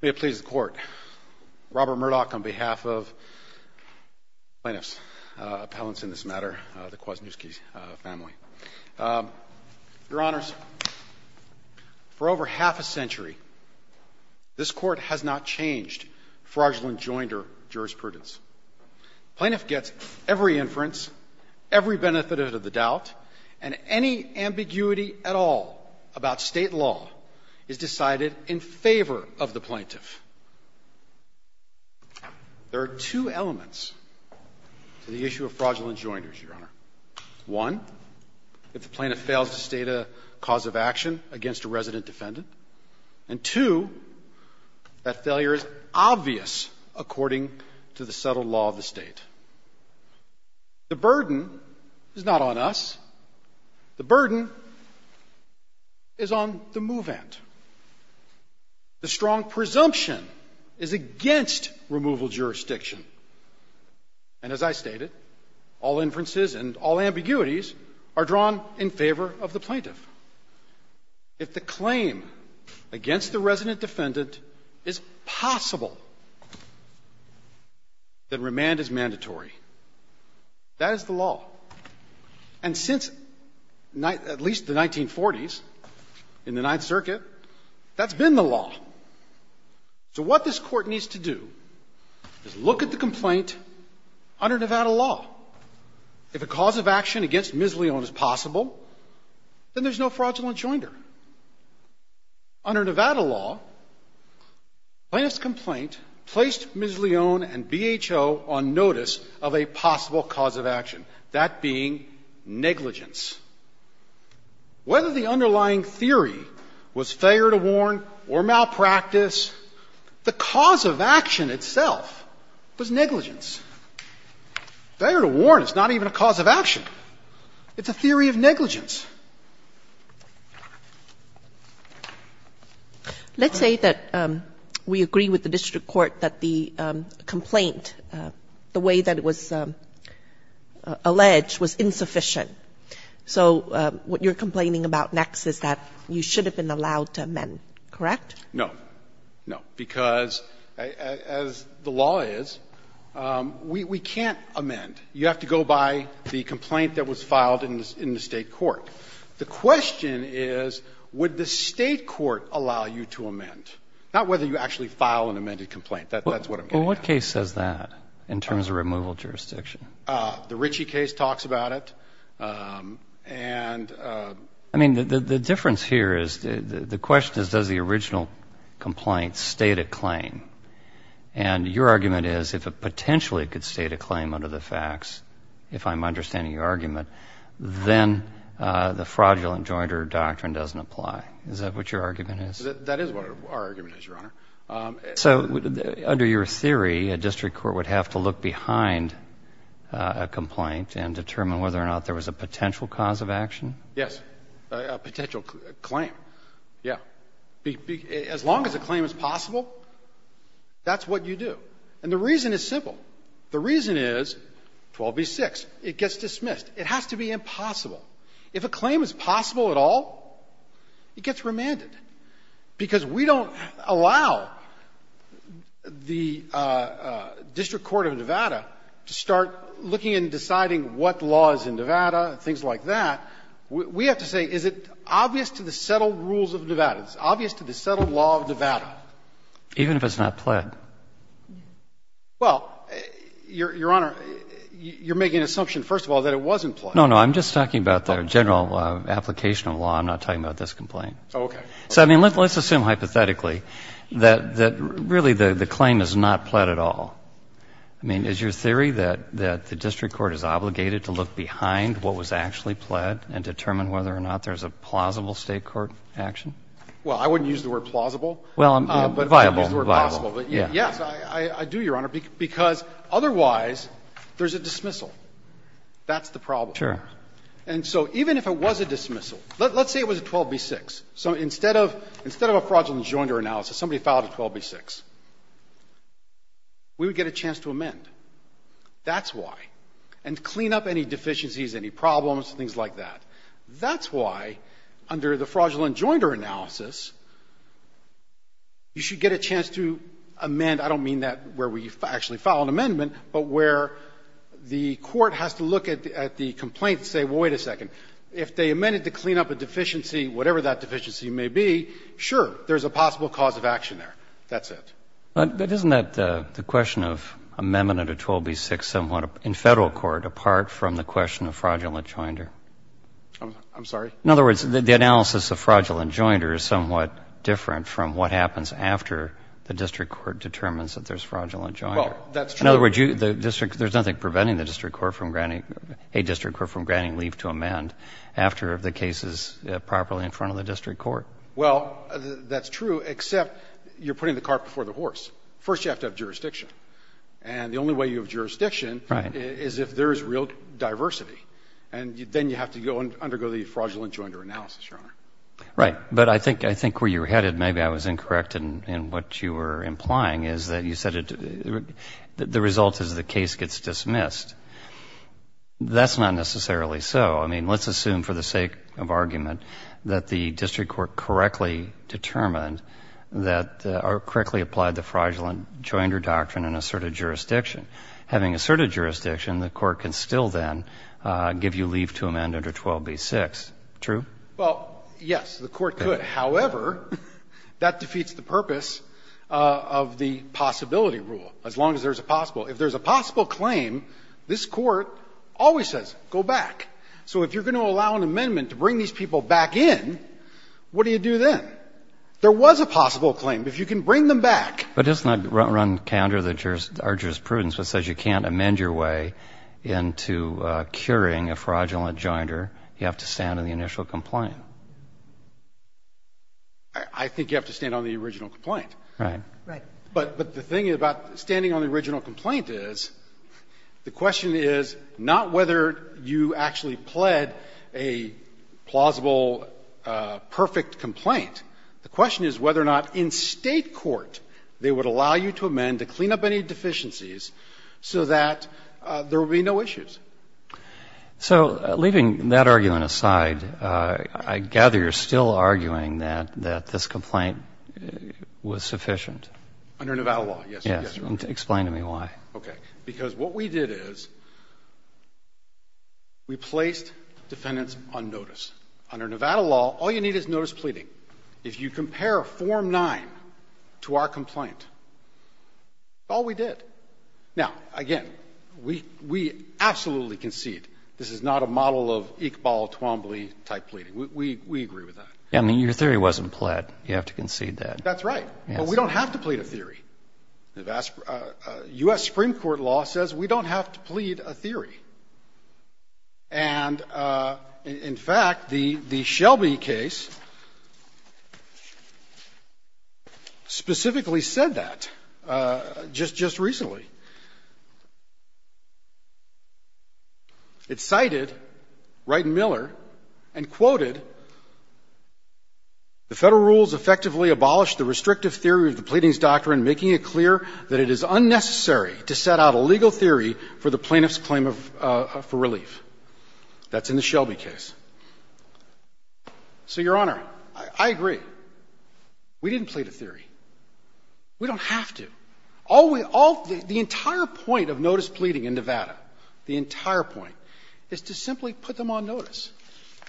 May it please the Court, Robert Murdoch on behalf of plaintiffs' appellants in this matter, the Kwasniewski family. Your Honors, for over half a century, this Court has not changed fraudulent joinder jurisprudence. Plaintiff gets every inference, every benefit of the doubt, and any ambiguity at all about state law is decided in favor of the plaintiff. There are two elements to the issue of fraudulent joinders, Your Honor. One, if the plaintiff fails to state a cause of action against a resident defendant. And two, that failure is obvious according to the subtle law of the State. The burden is not on us. The burden is on the movant. The strong presumption is against removal jurisdiction. And as I stated, all inferences and all ambiguities are drawn in favor of the plaintiff. If the claim against the resident defendant is possible, then remand is mandatory. That is the law. And since at least the 1940s, in the Ninth Circuit, that's been the law. So what this Court needs to do is look at the complaint under Nevada law. If a cause of action against Ms. Leone is possible, then there's no fraudulent joinder. Under Nevada law, plaintiff's complaint placed Ms. Leone and BHO on notice of a possible cause of action, that being negligence. Whether the underlying theory was failure to warn or malpractice, the cause of action itself was negligence. Failure to warn is not even a cause of action. It's a theory of negligence. Let's say that we agree with the district court that the complaint, the way that it was alleged, was insufficient. So what you're complaining about next is that you should have been allowed to amend. Correct? No. No, because as the law is, we can't amend. You have to go by the complaint that was filed in the State court. The question is, would the State court allow you to amend? Not whether you actually file an amended complaint. That's what I'm getting at. Well, what case says that in terms of removal jurisdiction? The Ritchie case talks about it. I mean, the difference here is, the question is, does the original complaint state a claim? And your argument is, if it potentially could state a claim under the facts, if I'm understanding your argument, then the fraudulent jointer doctrine doesn't apply. Is that what your argument is? That is what our argument is, Your Honor. So under your theory, a district court would have to look behind a complaint and determine whether or not there was a potential cause of action? Yes, a potential claim. Yeah. As long as a claim is possible, that's what you do. And the reason is simple. The reason is 12b-6. It gets dismissed. It has to be impossible. If a claim is possible at all, it gets remanded, because we don't allow the district court of Nevada to start looking and deciding what laws in Nevada, things like that. We have to say, is it obvious to the settled rules of Nevada? Is it obvious to the settled law of Nevada? Even if it's not pled? Well, Your Honor, you're making an assumption, first of all, that it wasn't pled. No, no. I'm just talking about the general application of law. I'm not talking about this complaint. Oh, okay. So, I mean, let's assume hypothetically that really the claim is not pled at all. I mean, is your theory that the district court is obligated to look behind what was actually pled and determine whether or not there's a plausible State court action? Well, I wouldn't use the word plausible. Well, viable. But yes, I do, Your Honor, because otherwise there's a dismissal. That's the problem. Sure. And so even if it was a dismissal, let's say it was a 12b-6. So instead of a fraudulent joinder analysis, somebody filed a 12b-6. We would get a chance to amend. That's why. And clean up any deficiencies, any problems, things like that. That's why under the fraudulent joinder analysis, you should get a chance to amend — I don't mean that where we actually file an amendment, but where the court has to look at the complaint and say, well, wait a second, if they amended to clean up a deficiency, whatever that deficiency may be, sure, there's a possible cause of action there. That's it. But isn't that the question of amendment at a 12b-6 somewhat in Federal court, apart from the question of fraudulent joinder? I'm sorry? In other words, the analysis of fraudulent joinder is somewhat different from what happens after the district court determines that there's fraudulent joinder. Well, that's true. In other words, the district — there's nothing preventing the district court from granting — a district court from granting leave to amend after the case is properly in front of the district court. Well, that's true, except you're putting the cart before the horse. First, you have to have jurisdiction. And the only way you have jurisdiction is if there is real diversity. And then you have to go and undergo the fraudulent joinder analysis, Your Honor. Right. But I think where you're headed, maybe I was incorrect in what you were implying, is that you said the result is the case gets dismissed. That's not necessarily so. I mean, let's assume for the sake of argument that the district court correctly determined that or correctly applied the fraudulent joinder doctrine in asserted jurisdiction. Having asserted jurisdiction, the court can still then give you leave to amend under 12b-6. True? Well, yes, the court could. However, that defeats the purpose of the possibility rule. As long as there's a possible. If there's a possible claim, this Court always says, go back. So if you're going to allow an amendment to bring these people back in, what do you do then? There was a possible claim. If you can bring them back. But doesn't that run counter to our jurisprudence, which says you can't amend your way into curing a fraudulent joinder? You have to stand on the initial complaint. I think you have to stand on the original complaint. Right. Right. But the thing about standing on the original complaint is the question is not whether you actually pled a plausible, perfect complaint. The question is whether or not in State court they would allow you to amend to clean up any deficiencies so that there would be no issues. So leaving that argument aside, I gather you're still arguing that this complaint was sufficient. Under Nevada law, yes. Explain to me why. Okay. Because what we did is we placed defendants on notice. Under Nevada law, all you need is notice pleading. If you compare Form 9 to our complaint, that's all we did. Now, again, we absolutely concede this is not a model of Iqbal, Twombly type pleading. We agree with that. I mean, your theory wasn't pled. You have to concede that. That's right. But we don't have to plead a theory. U.S. Supreme Court law says we don't have to plead a theory. And, in fact, the Shelby case specifically said that just recently. It cited Wright and Miller and quoted, The Federal rules effectively abolished the restrictive theory of the pleadings doctrine, making it clear that it is unnecessary to set out a legal theory for the plaintiff's claim for relief. That's in the Shelby case. So, Your Honor, I agree. We didn't plead a theory. We don't have to. All we all the entire point of notice pleading in Nevada, the entire point, is to simply put them on notice.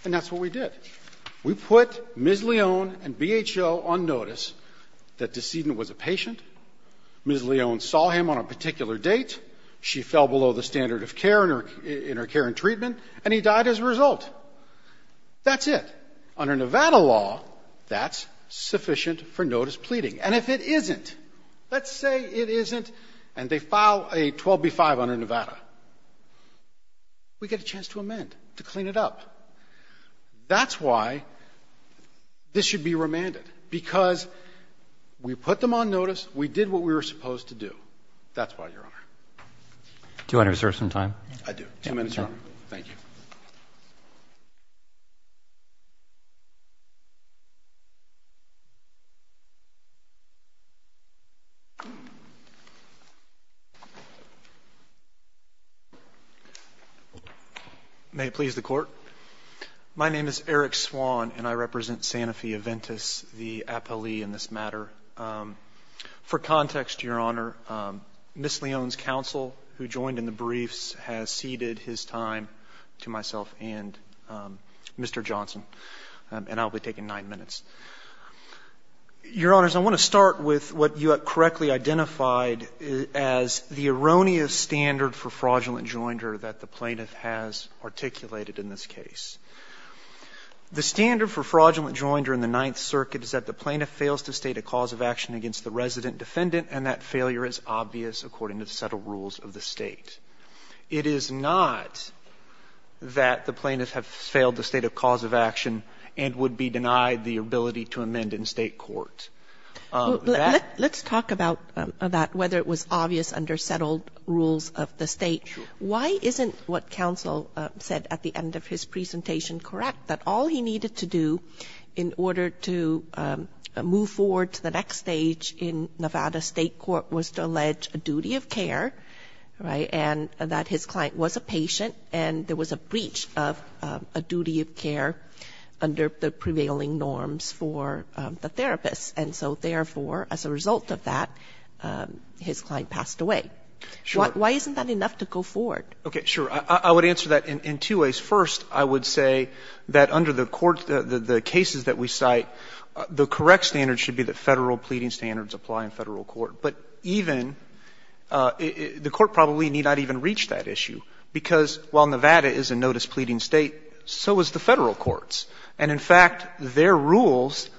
And that's what we did. We put Ms. Leone and BHO on notice that the decedent was a patient. Ms. Leone saw him on a particular date. She fell below the standard of care in her care and treatment, and he died as a result. That's it. Under Nevada law, that's sufficient for notice pleading. And if it isn't, let's say it isn't, and they file a 12B-5 under Nevada, we get a chance to amend, to clean it up. That's why this should be remanded, because we put them on notice. We did what we were supposed to do. That's why, Your Honor. Do you want to reserve some time? I do. Two minutes, Your Honor. Thank you. May it please the Court. My name is Eric Swann, and I represent Santa Fe Aventis, the appellee in this matter. For context, Your Honor, Ms. Leone's counsel, who joined in the briefs, has ceded his time to myself and Mr. Johnson, and I'll be taking nine minutes. Your Honors, I want to start with what you correctly identified as the erroneous standard for fraudulent joinder that the plaintiff has articulated in this case. The standard for fraudulent joinder in the Ninth Circuit is that the plaintiff fails to state a cause of action against the resident defendant, and that failure is obvious according to the settled rules of the State. It is not that the plaintiff has failed the state of cause of action and would be denied the ability to amend in State court. Let's talk about whether it was obvious under settled rules of the State. Sure. Why isn't what counsel said at the end of his presentation correct, that all he needed to do in order to move forward to the next stage in Nevada State court was to allege a duty of care, right, and that his client was a patient and there was a breach of a duty of care under the prevailing norms for the therapist? And so, therefore, as a result of that, his client passed away. Sure. Why isn't that enough to go forward? Okay, sure. I would answer that in two ways. First, I would say that under the court, the cases that we cite, the correct standard should be that Federal pleading standards apply in Federal court. But even the court probably need not even reach that issue, because while Nevada is a notice pleading State, so is the Federal courts. And in fact, their rules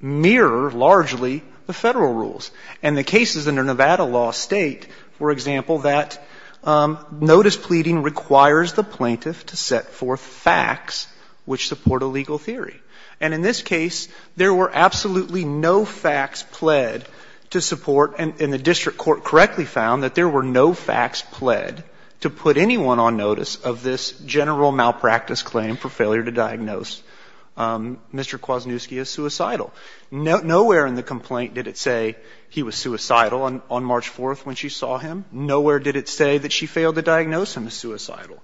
mirror largely the Federal rules. And the cases under Nevada law state, for example, that notice pleading requires the plaintiff to set forth facts which support a legal theory. And in this case, there were absolutely no facts pled to support, and the district court correctly found that there were no facts pled to put anyone on notice of this general malpractice claim for failure to diagnose Mr. Kwasniewski as suicidal. Nowhere in the complaint did it say he was suicidal on March 4th when she saw him. Nowhere did it say that she failed to diagnose him as suicidal.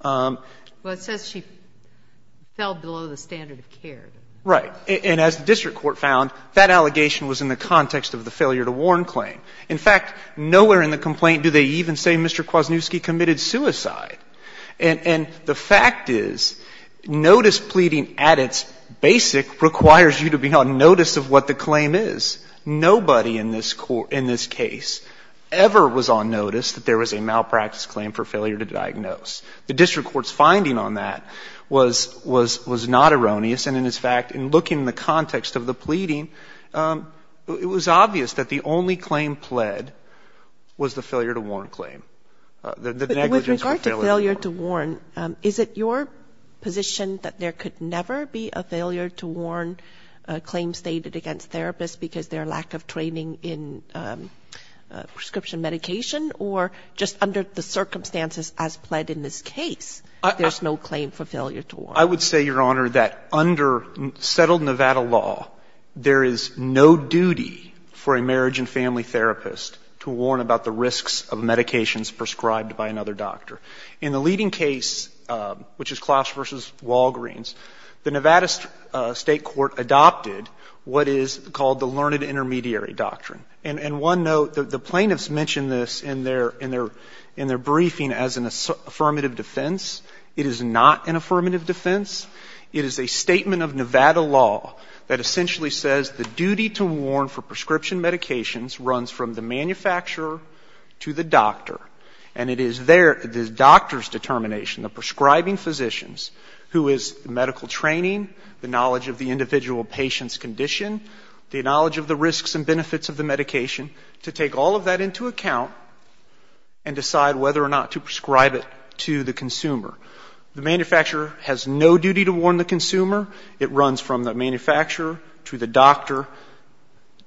But it says she fell below the standard of care. Right. And as the district court found, that allegation was in the context of the failure to warn claim. In fact, nowhere in the complaint do they even say Mr. Kwasniewski committed suicide. And the fact is notice pleading at its basic requires you to be on notice of what the claim is. Nobody in this case ever was on notice that there was a malpractice claim for failure to diagnose. The district court's finding on that was not erroneous. And in fact, in looking at the context of the pleading, it was obvious that the only claim pled was the failure to warn claim. The negligence was failure to warn. But with regard to failure to warn, is it your position that there could never be a claim stated against therapists because their lack of training in prescription medication, or just under the circumstances as pled in this case, there's no claim for failure to warn? I would say, Your Honor, that under settled Nevada law, there is no duty for a marriage and family therapist to warn about the risks of medications prescribed by another doctor. In the leading case, which is Klausch v. Walgreens, the Nevada state court adopted what is called the learned intermediary doctrine. And one note, the plaintiffs mention this in their briefing as an affirmative defense. It is not an affirmative defense. It is a statement of Nevada law that essentially says the duty to warn for prescription medications runs from the manufacturer to the doctor. And it is there, the doctor's determination, the prescribing physicians, who is the medical training, the knowledge of the individual patient's condition, the knowledge of the risks and benefits of the medication, to take all of that into account and decide whether or not to prescribe it to the consumer. The manufacturer has no duty to warn the consumer. It runs from the manufacturer to the doctor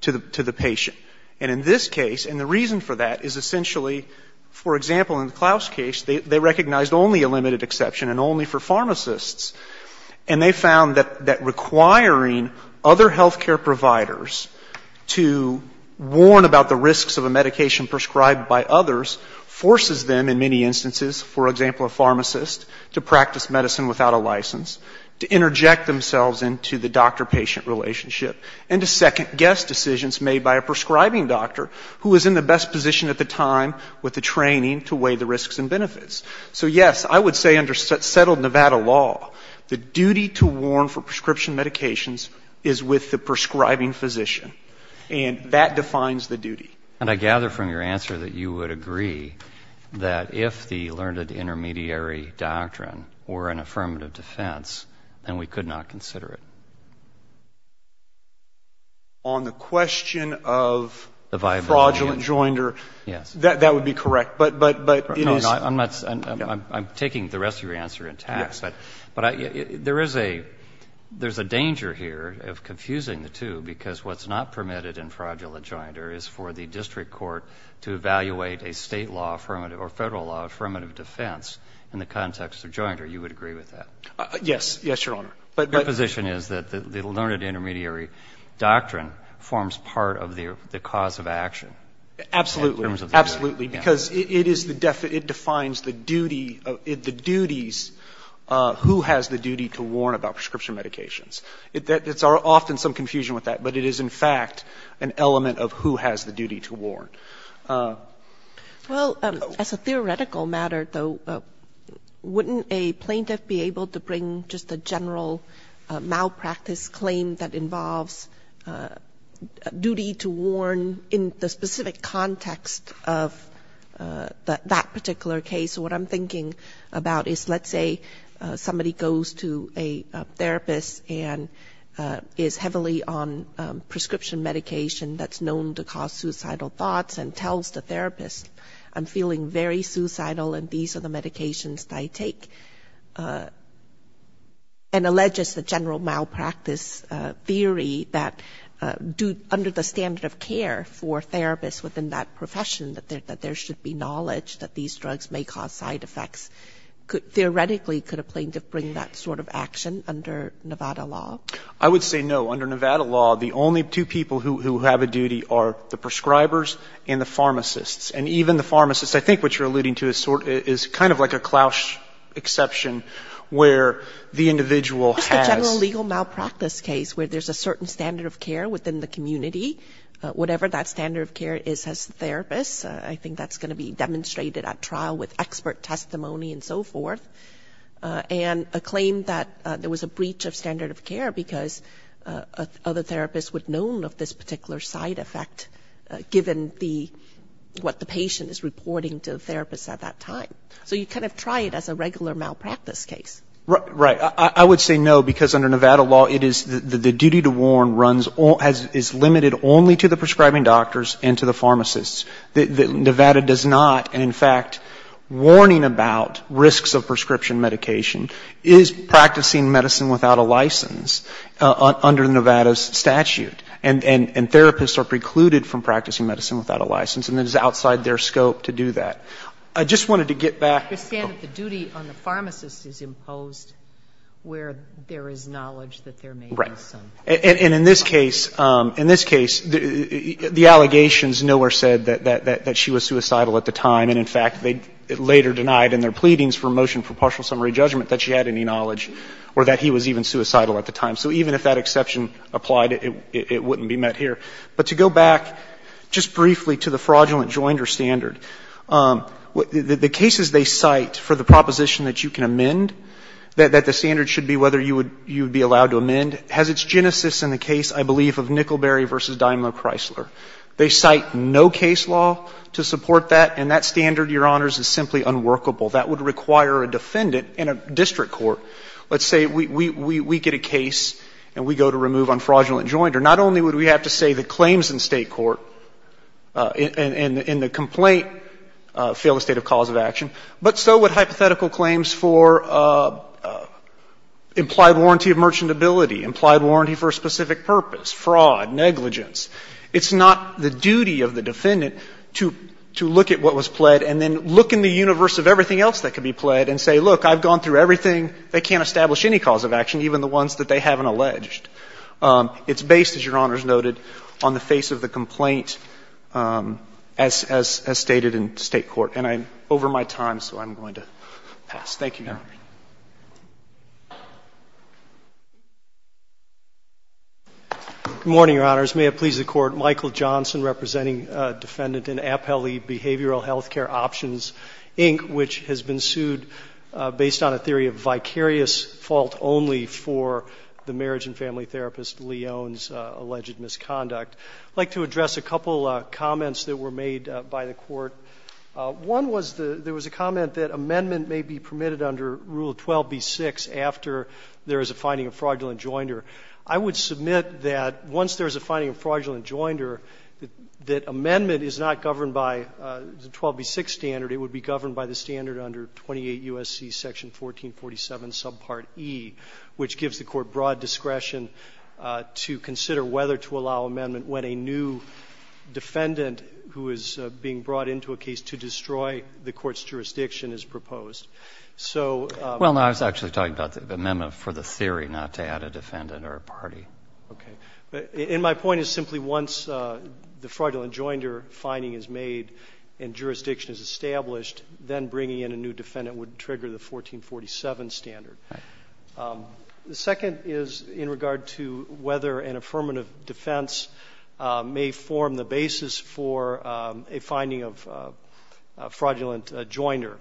to the patient. And in this case, and the reason for that is essentially, for example, in the Klausch case, they recognized only a limited exception and only for pharmacists. And they found that requiring other health care providers to warn about the risks of a medication prescribed by others forces them in many instances, for example, a pharmacist, to practice medicine without a license, to interject themselves into the doctor-patient relationship and to second-guess decisions made by a prescribing doctor who is in the best position at the time with the training to weigh the risks and benefits. So, yes, I would say under settled Nevada law, the duty to warn for prescription medications is with the prescribing physician. And that defines the duty. And I gather from your answer that you would agree that if the learned intermediary doctrine were an affirmative defense, then we could not consider it. On the question of fraudulent joinder. Yes. That would be correct. But it is. No, I'm not. I'm taking the rest of your answer in tact. Yes. But there is a danger here of confusing the two because what's not permitted in fraudulent joinder is for the district court to evaluate a state law affirmative or Federal law affirmative defense in the context of joinder. You would agree with that? Yes. Yes, Your Honor. But the position is that the learned intermediary doctrine forms part of the cause of action. Absolutely. Absolutely. Because it is the definition. It defines the duty, the duties, who has the duty to warn about prescription medications. It's often some confusion with that, but it is in fact an element of who has the duty to warn. Well, as a theoretical matter, though, wouldn't a plaintiff be able to bring just a general malpractice claim that involves duty to warn in the specific context of that particular case? What I'm thinking about is let's say somebody goes to a therapist and is heavily on prescription medication that's known to cause suicidal thoughts and tells the therapist, I'm feeling very suicidal and these are the medications that I take, and alleges the general malpractice theory that under the standard of care for therapists within that profession that there should be knowledge that these drugs may cause side effects. Theoretically, could a plaintiff bring that sort of action under Nevada law? I would say no. Under Nevada law, the only two people who have a duty are the prescribers and the pharmacists. And even the pharmacists, I think what you're alluding to is kind of like a Klaus exception where the individual has ‑‑ Just the general legal malpractice case where there's a certain standard of care within the community, whatever that standard of care is as the therapist, I think that's going to be demonstrated at trial with expert testimony and so forth. And a claim that there was a breach of standard of care because other therapists would have known of this particular side effect given the ‑‑ what the patient is reporting to the therapist at that time. So you kind of try it as a regular malpractice case. Right. I would say no, because under Nevada law, it is the duty to warn runs ‑‑ is limited only to the prescribing doctors and to the pharmacists. Nevada does not, and in fact, warning about risks of prescription medication is practicing medicine without a license under Nevada's statute. And therapists are precluded from practicing medicine without a license. And it is outside their scope to do that. I just wanted to get back ‑‑ I understand that the duty on the pharmacist is imposed where there is knowledge that there may be some. Right. And in this case, in this case, the allegations nowhere said that she was suicidal at the time. And in fact, they later denied in their pleadings for motion for partial summary judgment that she had any knowledge or that he was even suicidal at the time. So even if that exception applied, it wouldn't be met here. But to go back just briefly to the fraudulent joinder standard, the cases they cite for the proposition that you can amend, that the standard should be whether you would be allowed to amend, has its genesis in the case, I believe, of Nickelberry v. Daimler Chrysler. They cite no case law to support that. And that standard, Your Honors, is simply unworkable. That would require a defendant in a district court. Let's say we get a case and we go to remove on fraudulent joinder. Not only would we have to say the claims in State court in the complaint fail the state of cause of action, but so would hypothetical claims for implied warranty of merchantability, implied warranty for a specific purpose, fraud, negligence. It's not the duty of the defendant to look at what was pled and then look in the universe of everything else that could be pled and say, look, I've gone through everything. They can't establish any cause of action, even the ones that they haven't alleged. It's based, as Your Honors noted, on the face of the complaint as stated in State court. And I'm over my time, so I'm going to pass. Thank you, Your Honors. Good morning, Your Honors. May it please the Court. Michael Johnson representing Defendant in Appellee Behavioral Health Care Options, Inc., which has been sued based on a theory of vicarious fault only for the marriage and family therapist, Leon's, alleged misconduct. I'd like to address a couple of comments that were made by the Court. One was the — there was a comment that amendment may be permitted under Rule 12b-6 after there is a finding of fraudulent joinder. I would submit that once there is a finding of fraudulent joinder, that amendment is not governed by the 12b-6 standard. It would be governed by the standard under 28 U.S.C. Section 1447, subpart E, which gives the Court broad discretion to consider whether to allow amendment when a new defendant who is being brought into a case to destroy the Court's jurisdiction is proposed. So — Well, no, I was actually talking about the amendment for the theory, not to add a defendant or a party. Okay. And my point is simply once the fraudulent joinder finding is made and jurisdiction is established, then bringing in a new defendant would trigger the 1447 standard. All right. The second is in regard to whether an affirmative defense may form the basis for a finding of fraudulent joinder.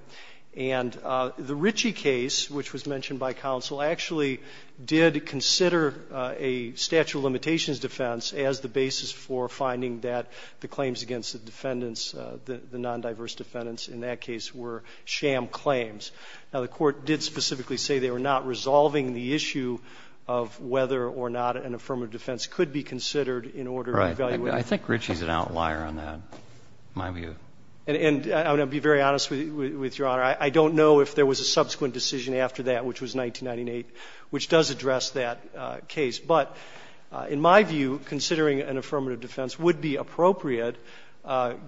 And the Ritchie case, which was mentioned by counsel, actually did consider a statute of limitations defense as the basis for finding that the claims against the defendants, the nondiverse defendants in that case, were sham claims. Now, the Court did specifically say they were not resolving the issue of whether or not an affirmative defense could be considered in order to evaluate — Right. I think Ritchie's an outlier on that, in my view. And I'm going to be very honest with Your Honor. I don't know if there was a subsequent decision after that, which was 1998, which does address that case. But in my view, considering an affirmative defense would be appropriate,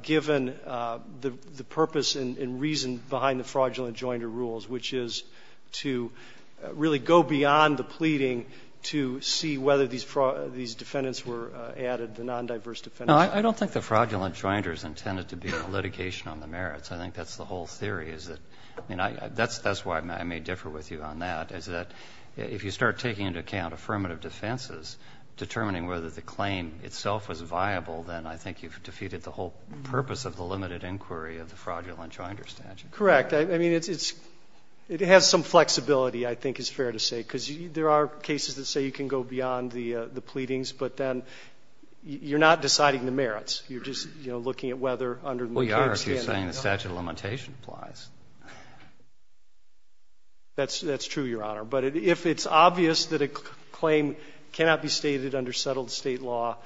given the purpose and reason behind the fraudulent joinder rules, which is to really go beyond the pleading to see whether these defendants were added, the nondiverse defendants. No, I don't think the fraudulent joinder is intended to be a litigation on the merits. I think that's the whole theory, is that — I mean, that's why I may differ with you on that, is that if you start taking into account affirmative defenses, determining whether the claim itself was viable, then I think you've defeated the whole purpose of the limited inquiry of the fraudulent joinder statute. Correct. I mean, it's — it has some flexibility, I think is fair to say, because there are cases that say you can go beyond the pleadings, but then you're not deciding the merits. You're just, you know, looking at whether under the maternity standard — Well, you are, if you're saying the statute of limitation applies. That's true, Your Honor. But if it's obvious that a claim cannot be stated under settled State law,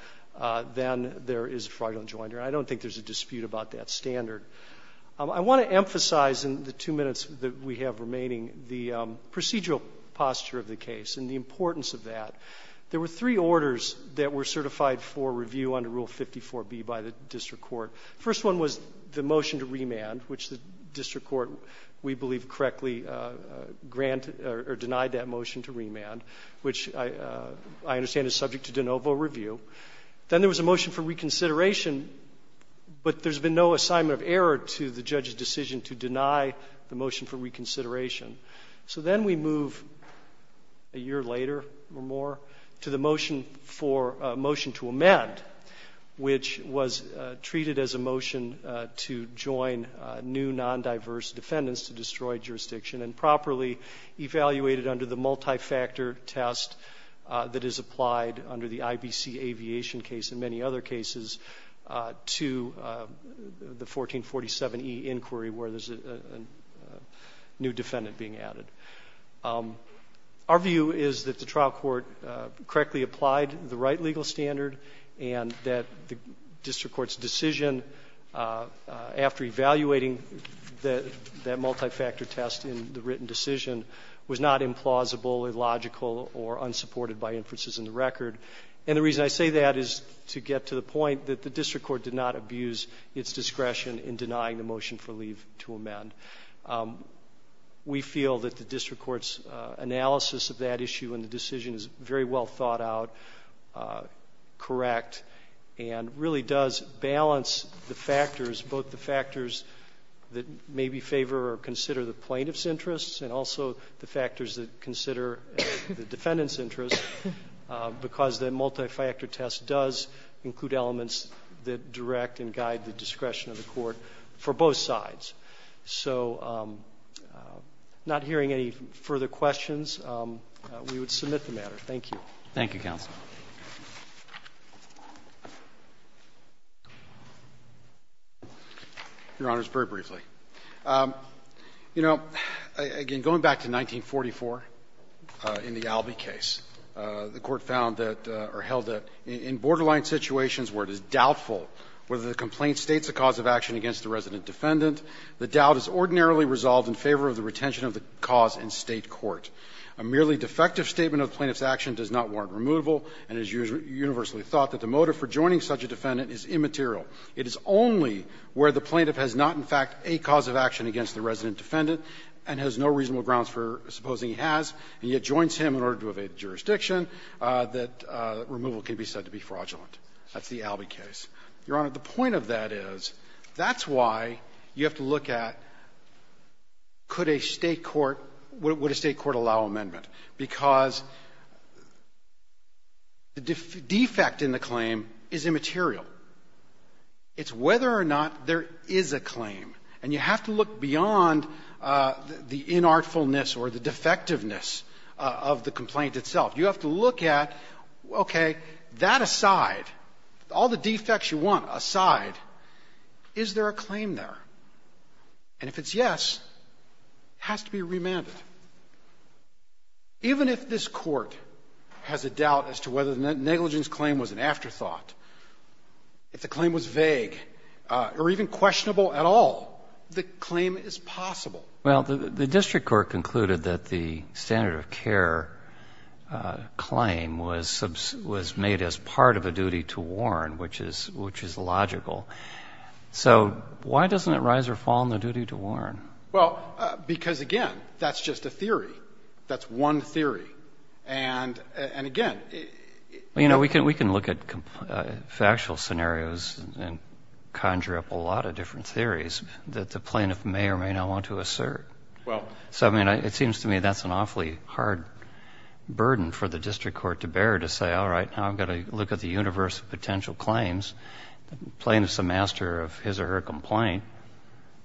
then there is a fraudulent joinder. I don't think there's a dispute about that standard. I want to emphasize in the two minutes that we have remaining the procedural posture of the case and the importance of that. There were three orders that were certified for review under Rule 54B by the district court. The first one was the motion to remand, which the district court, we believe, correctly granted or denied that motion to remand, which I understand is subject to de novo review. Then there was a motion for reconsideration, but there's been no assignment of error to the judge's decision to deny the motion for reconsideration. So then we move a year later or more to the motion for — motion to amend, which was treated as a motion to join new non-diverse defendants to destroyed jurisdiction and properly evaluated under the multi-factor test that is applied under the IBC aviation case and many other cases to the 1447E inquiry where there's a new defendant being added. Our view is that the trial court correctly applied the right legal standard and that the district court's decision after evaluating that multi-factor test in the written decision was not implausible, illogical, or unsupported by inferences in the record. And the reason I say that is to get to the point that the district court did not abuse its discretion in denying the motion for leave to amend. We feel that the district court's analysis of that issue and the decision is very well thought out, correct, and really does balance the factors, both the factors that maybe favor or consider the plaintiff's interests and also the factors that are not, because the multi-factor test does include elements that direct and guide the discretion of the court for both sides. So not hearing any further questions, we would submit the matter. Thank you. Roberts. Thank you, counsel. Your Honors, very briefly. You know, again, going back to 1944 in the Albee case, the court found that the plaintiff's action does not warrant removal, and it is universally thought that the motive for joining such a defendant is immaterial. It is only where the plaintiff has not, in fact, a cause of action against the resident defendant and has no reasonable grounds for supposing he has, and yet joins him in said to be fraudulent. That's the Albee case. Your Honor, the point of that is that's why you have to look at could a State court – would a State court allow amendment, because the defect in the claim is immaterial. It's whether or not there is a claim. And you have to look beyond the inartfulness or the defectiveness of the complaint itself. You have to look at, okay, that aside, all the defects you want aside, is there a claim there? And if it's yes, it has to be remanded. Even if this Court has a doubt as to whether the negligence claim was an afterthought, if the claim was vague or even questionable at all, the claim is possible. Well, the district court concluded that the standard of care claim was made as part of a duty to warn, which is logical. So why doesn't it rise or fall on the duty to warn? Well, because, again, that's just a theory. That's one theory. And, again, it – Well, you know, we can look at factual scenarios and conjure up a lot of different theories that the plaintiff may or may not want to assert. Well – So, I mean, it seems to me that's an awfully hard burden for the district court to bear, to say, all right, now I've got to look at the universe of potential claims. The plaintiff is a master of his or her complaint.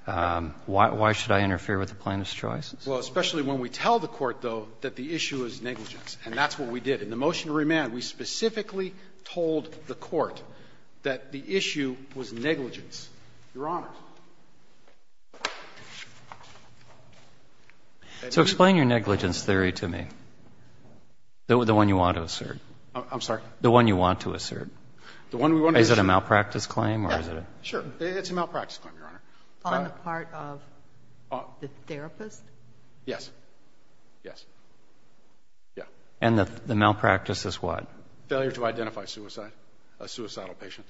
Why should I interfere with the plaintiff's choices? Well, especially when we tell the Court, though, that the issue is negligence. And that's what we did. In the motion to remand, we specifically told the Court that the issue was negligence. Your Honors. So explain your negligence theory to me. The one you want to assert. I'm sorry? The one you want to assert. The one we want to – Is it a malpractice claim, or is it a – Yeah, sure. It's a malpractice claim, Your Honor. On the part of the therapist? Yes. Yes. Yeah. And the malpractice is what? Failure to identify suicide, a suicidal patient.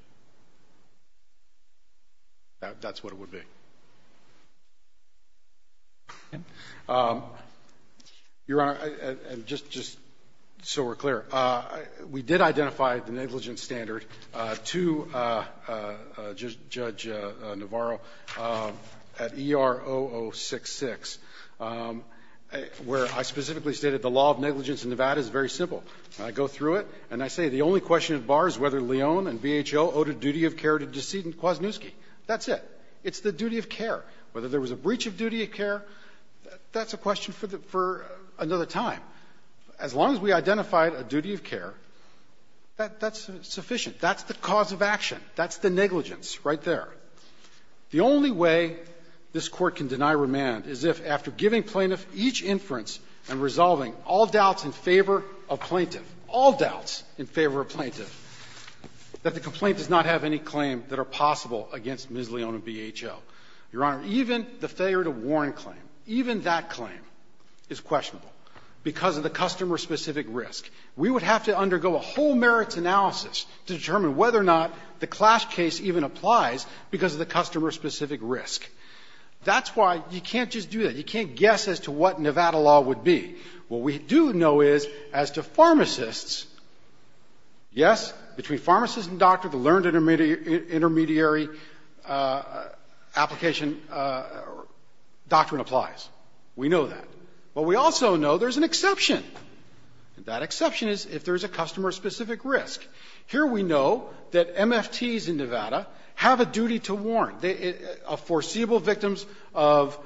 That's what it would be. Your Honor, just so we're clear, we did identify the negligence standard to Judge Navarro at ER0066, where I specifically stated the law of negligence in Nevada is very simple. I go through it, and I say the only question that bars whether Leon and VHO owed a duty of care to decedent Kwasniewski. That's it. It's the duty of care. Whether there was a breach of duty of care, that's a question for another time. As long as we identified a duty of care, that's sufficient. That's the cause of action. That's the negligence right there. The only way this Court can deny remand is if, after giving plaintiffs each inference and resolving all doubts in favor of plaintiff, all doubts in favor of plaintiff, that the complaint does not have any claim that are possible against Ms. Leon and VHO. Your Honor, even the failure to warn claim, even that claim, is questionable because of the customer-specific risk. We would have to undergo a whole merits analysis to determine whether or not the clash case even applies because of the customer-specific risk. That's why you can't just do that. You can't guess as to what Nevada law would be. What we do know is, as to pharmacists, yes, between pharmacist and doctor, the learned intermediary application doctrine applies. We know that. But we also know there's an exception, and that exception is if there's a customer-specific risk. Here we know that MFTs in Nevada have a duty to warn. They are foreseeable victims of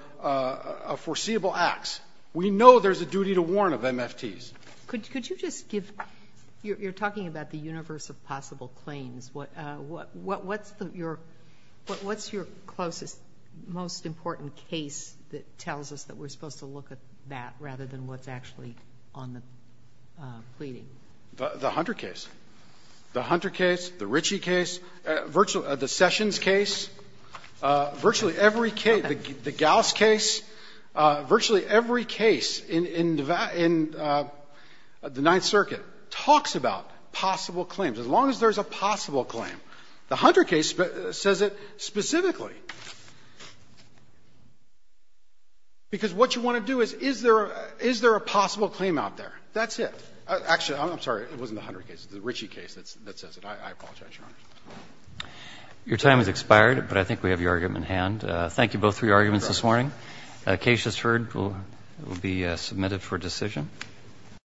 foreseeable acts. We know there's a duty to warn of MFTs. Could you just give – you're talking about the universe of possible claims. What's your closest, most important case that tells us that we're supposed to look at that rather than what's actually on the pleading? The Hunter case. The Hunter case. The Ritchie case. The Sessions case. Virtually every case. The Gauss case. Virtually every case in the Ninth Circuit talks about possible claims, as long as there's a possible claim. The Hunter case says it specifically. Because what you want to do is, is there a possible claim out there? That's it. Actually, I'm sorry. It wasn't the Hunter case. It's the Ritchie case that says it. I apologize, Your Honor. Your time has expired, but I think we have your argument in hand. Thank you, both, for your arguments this morning. The case, as heard, will be submitted for decision.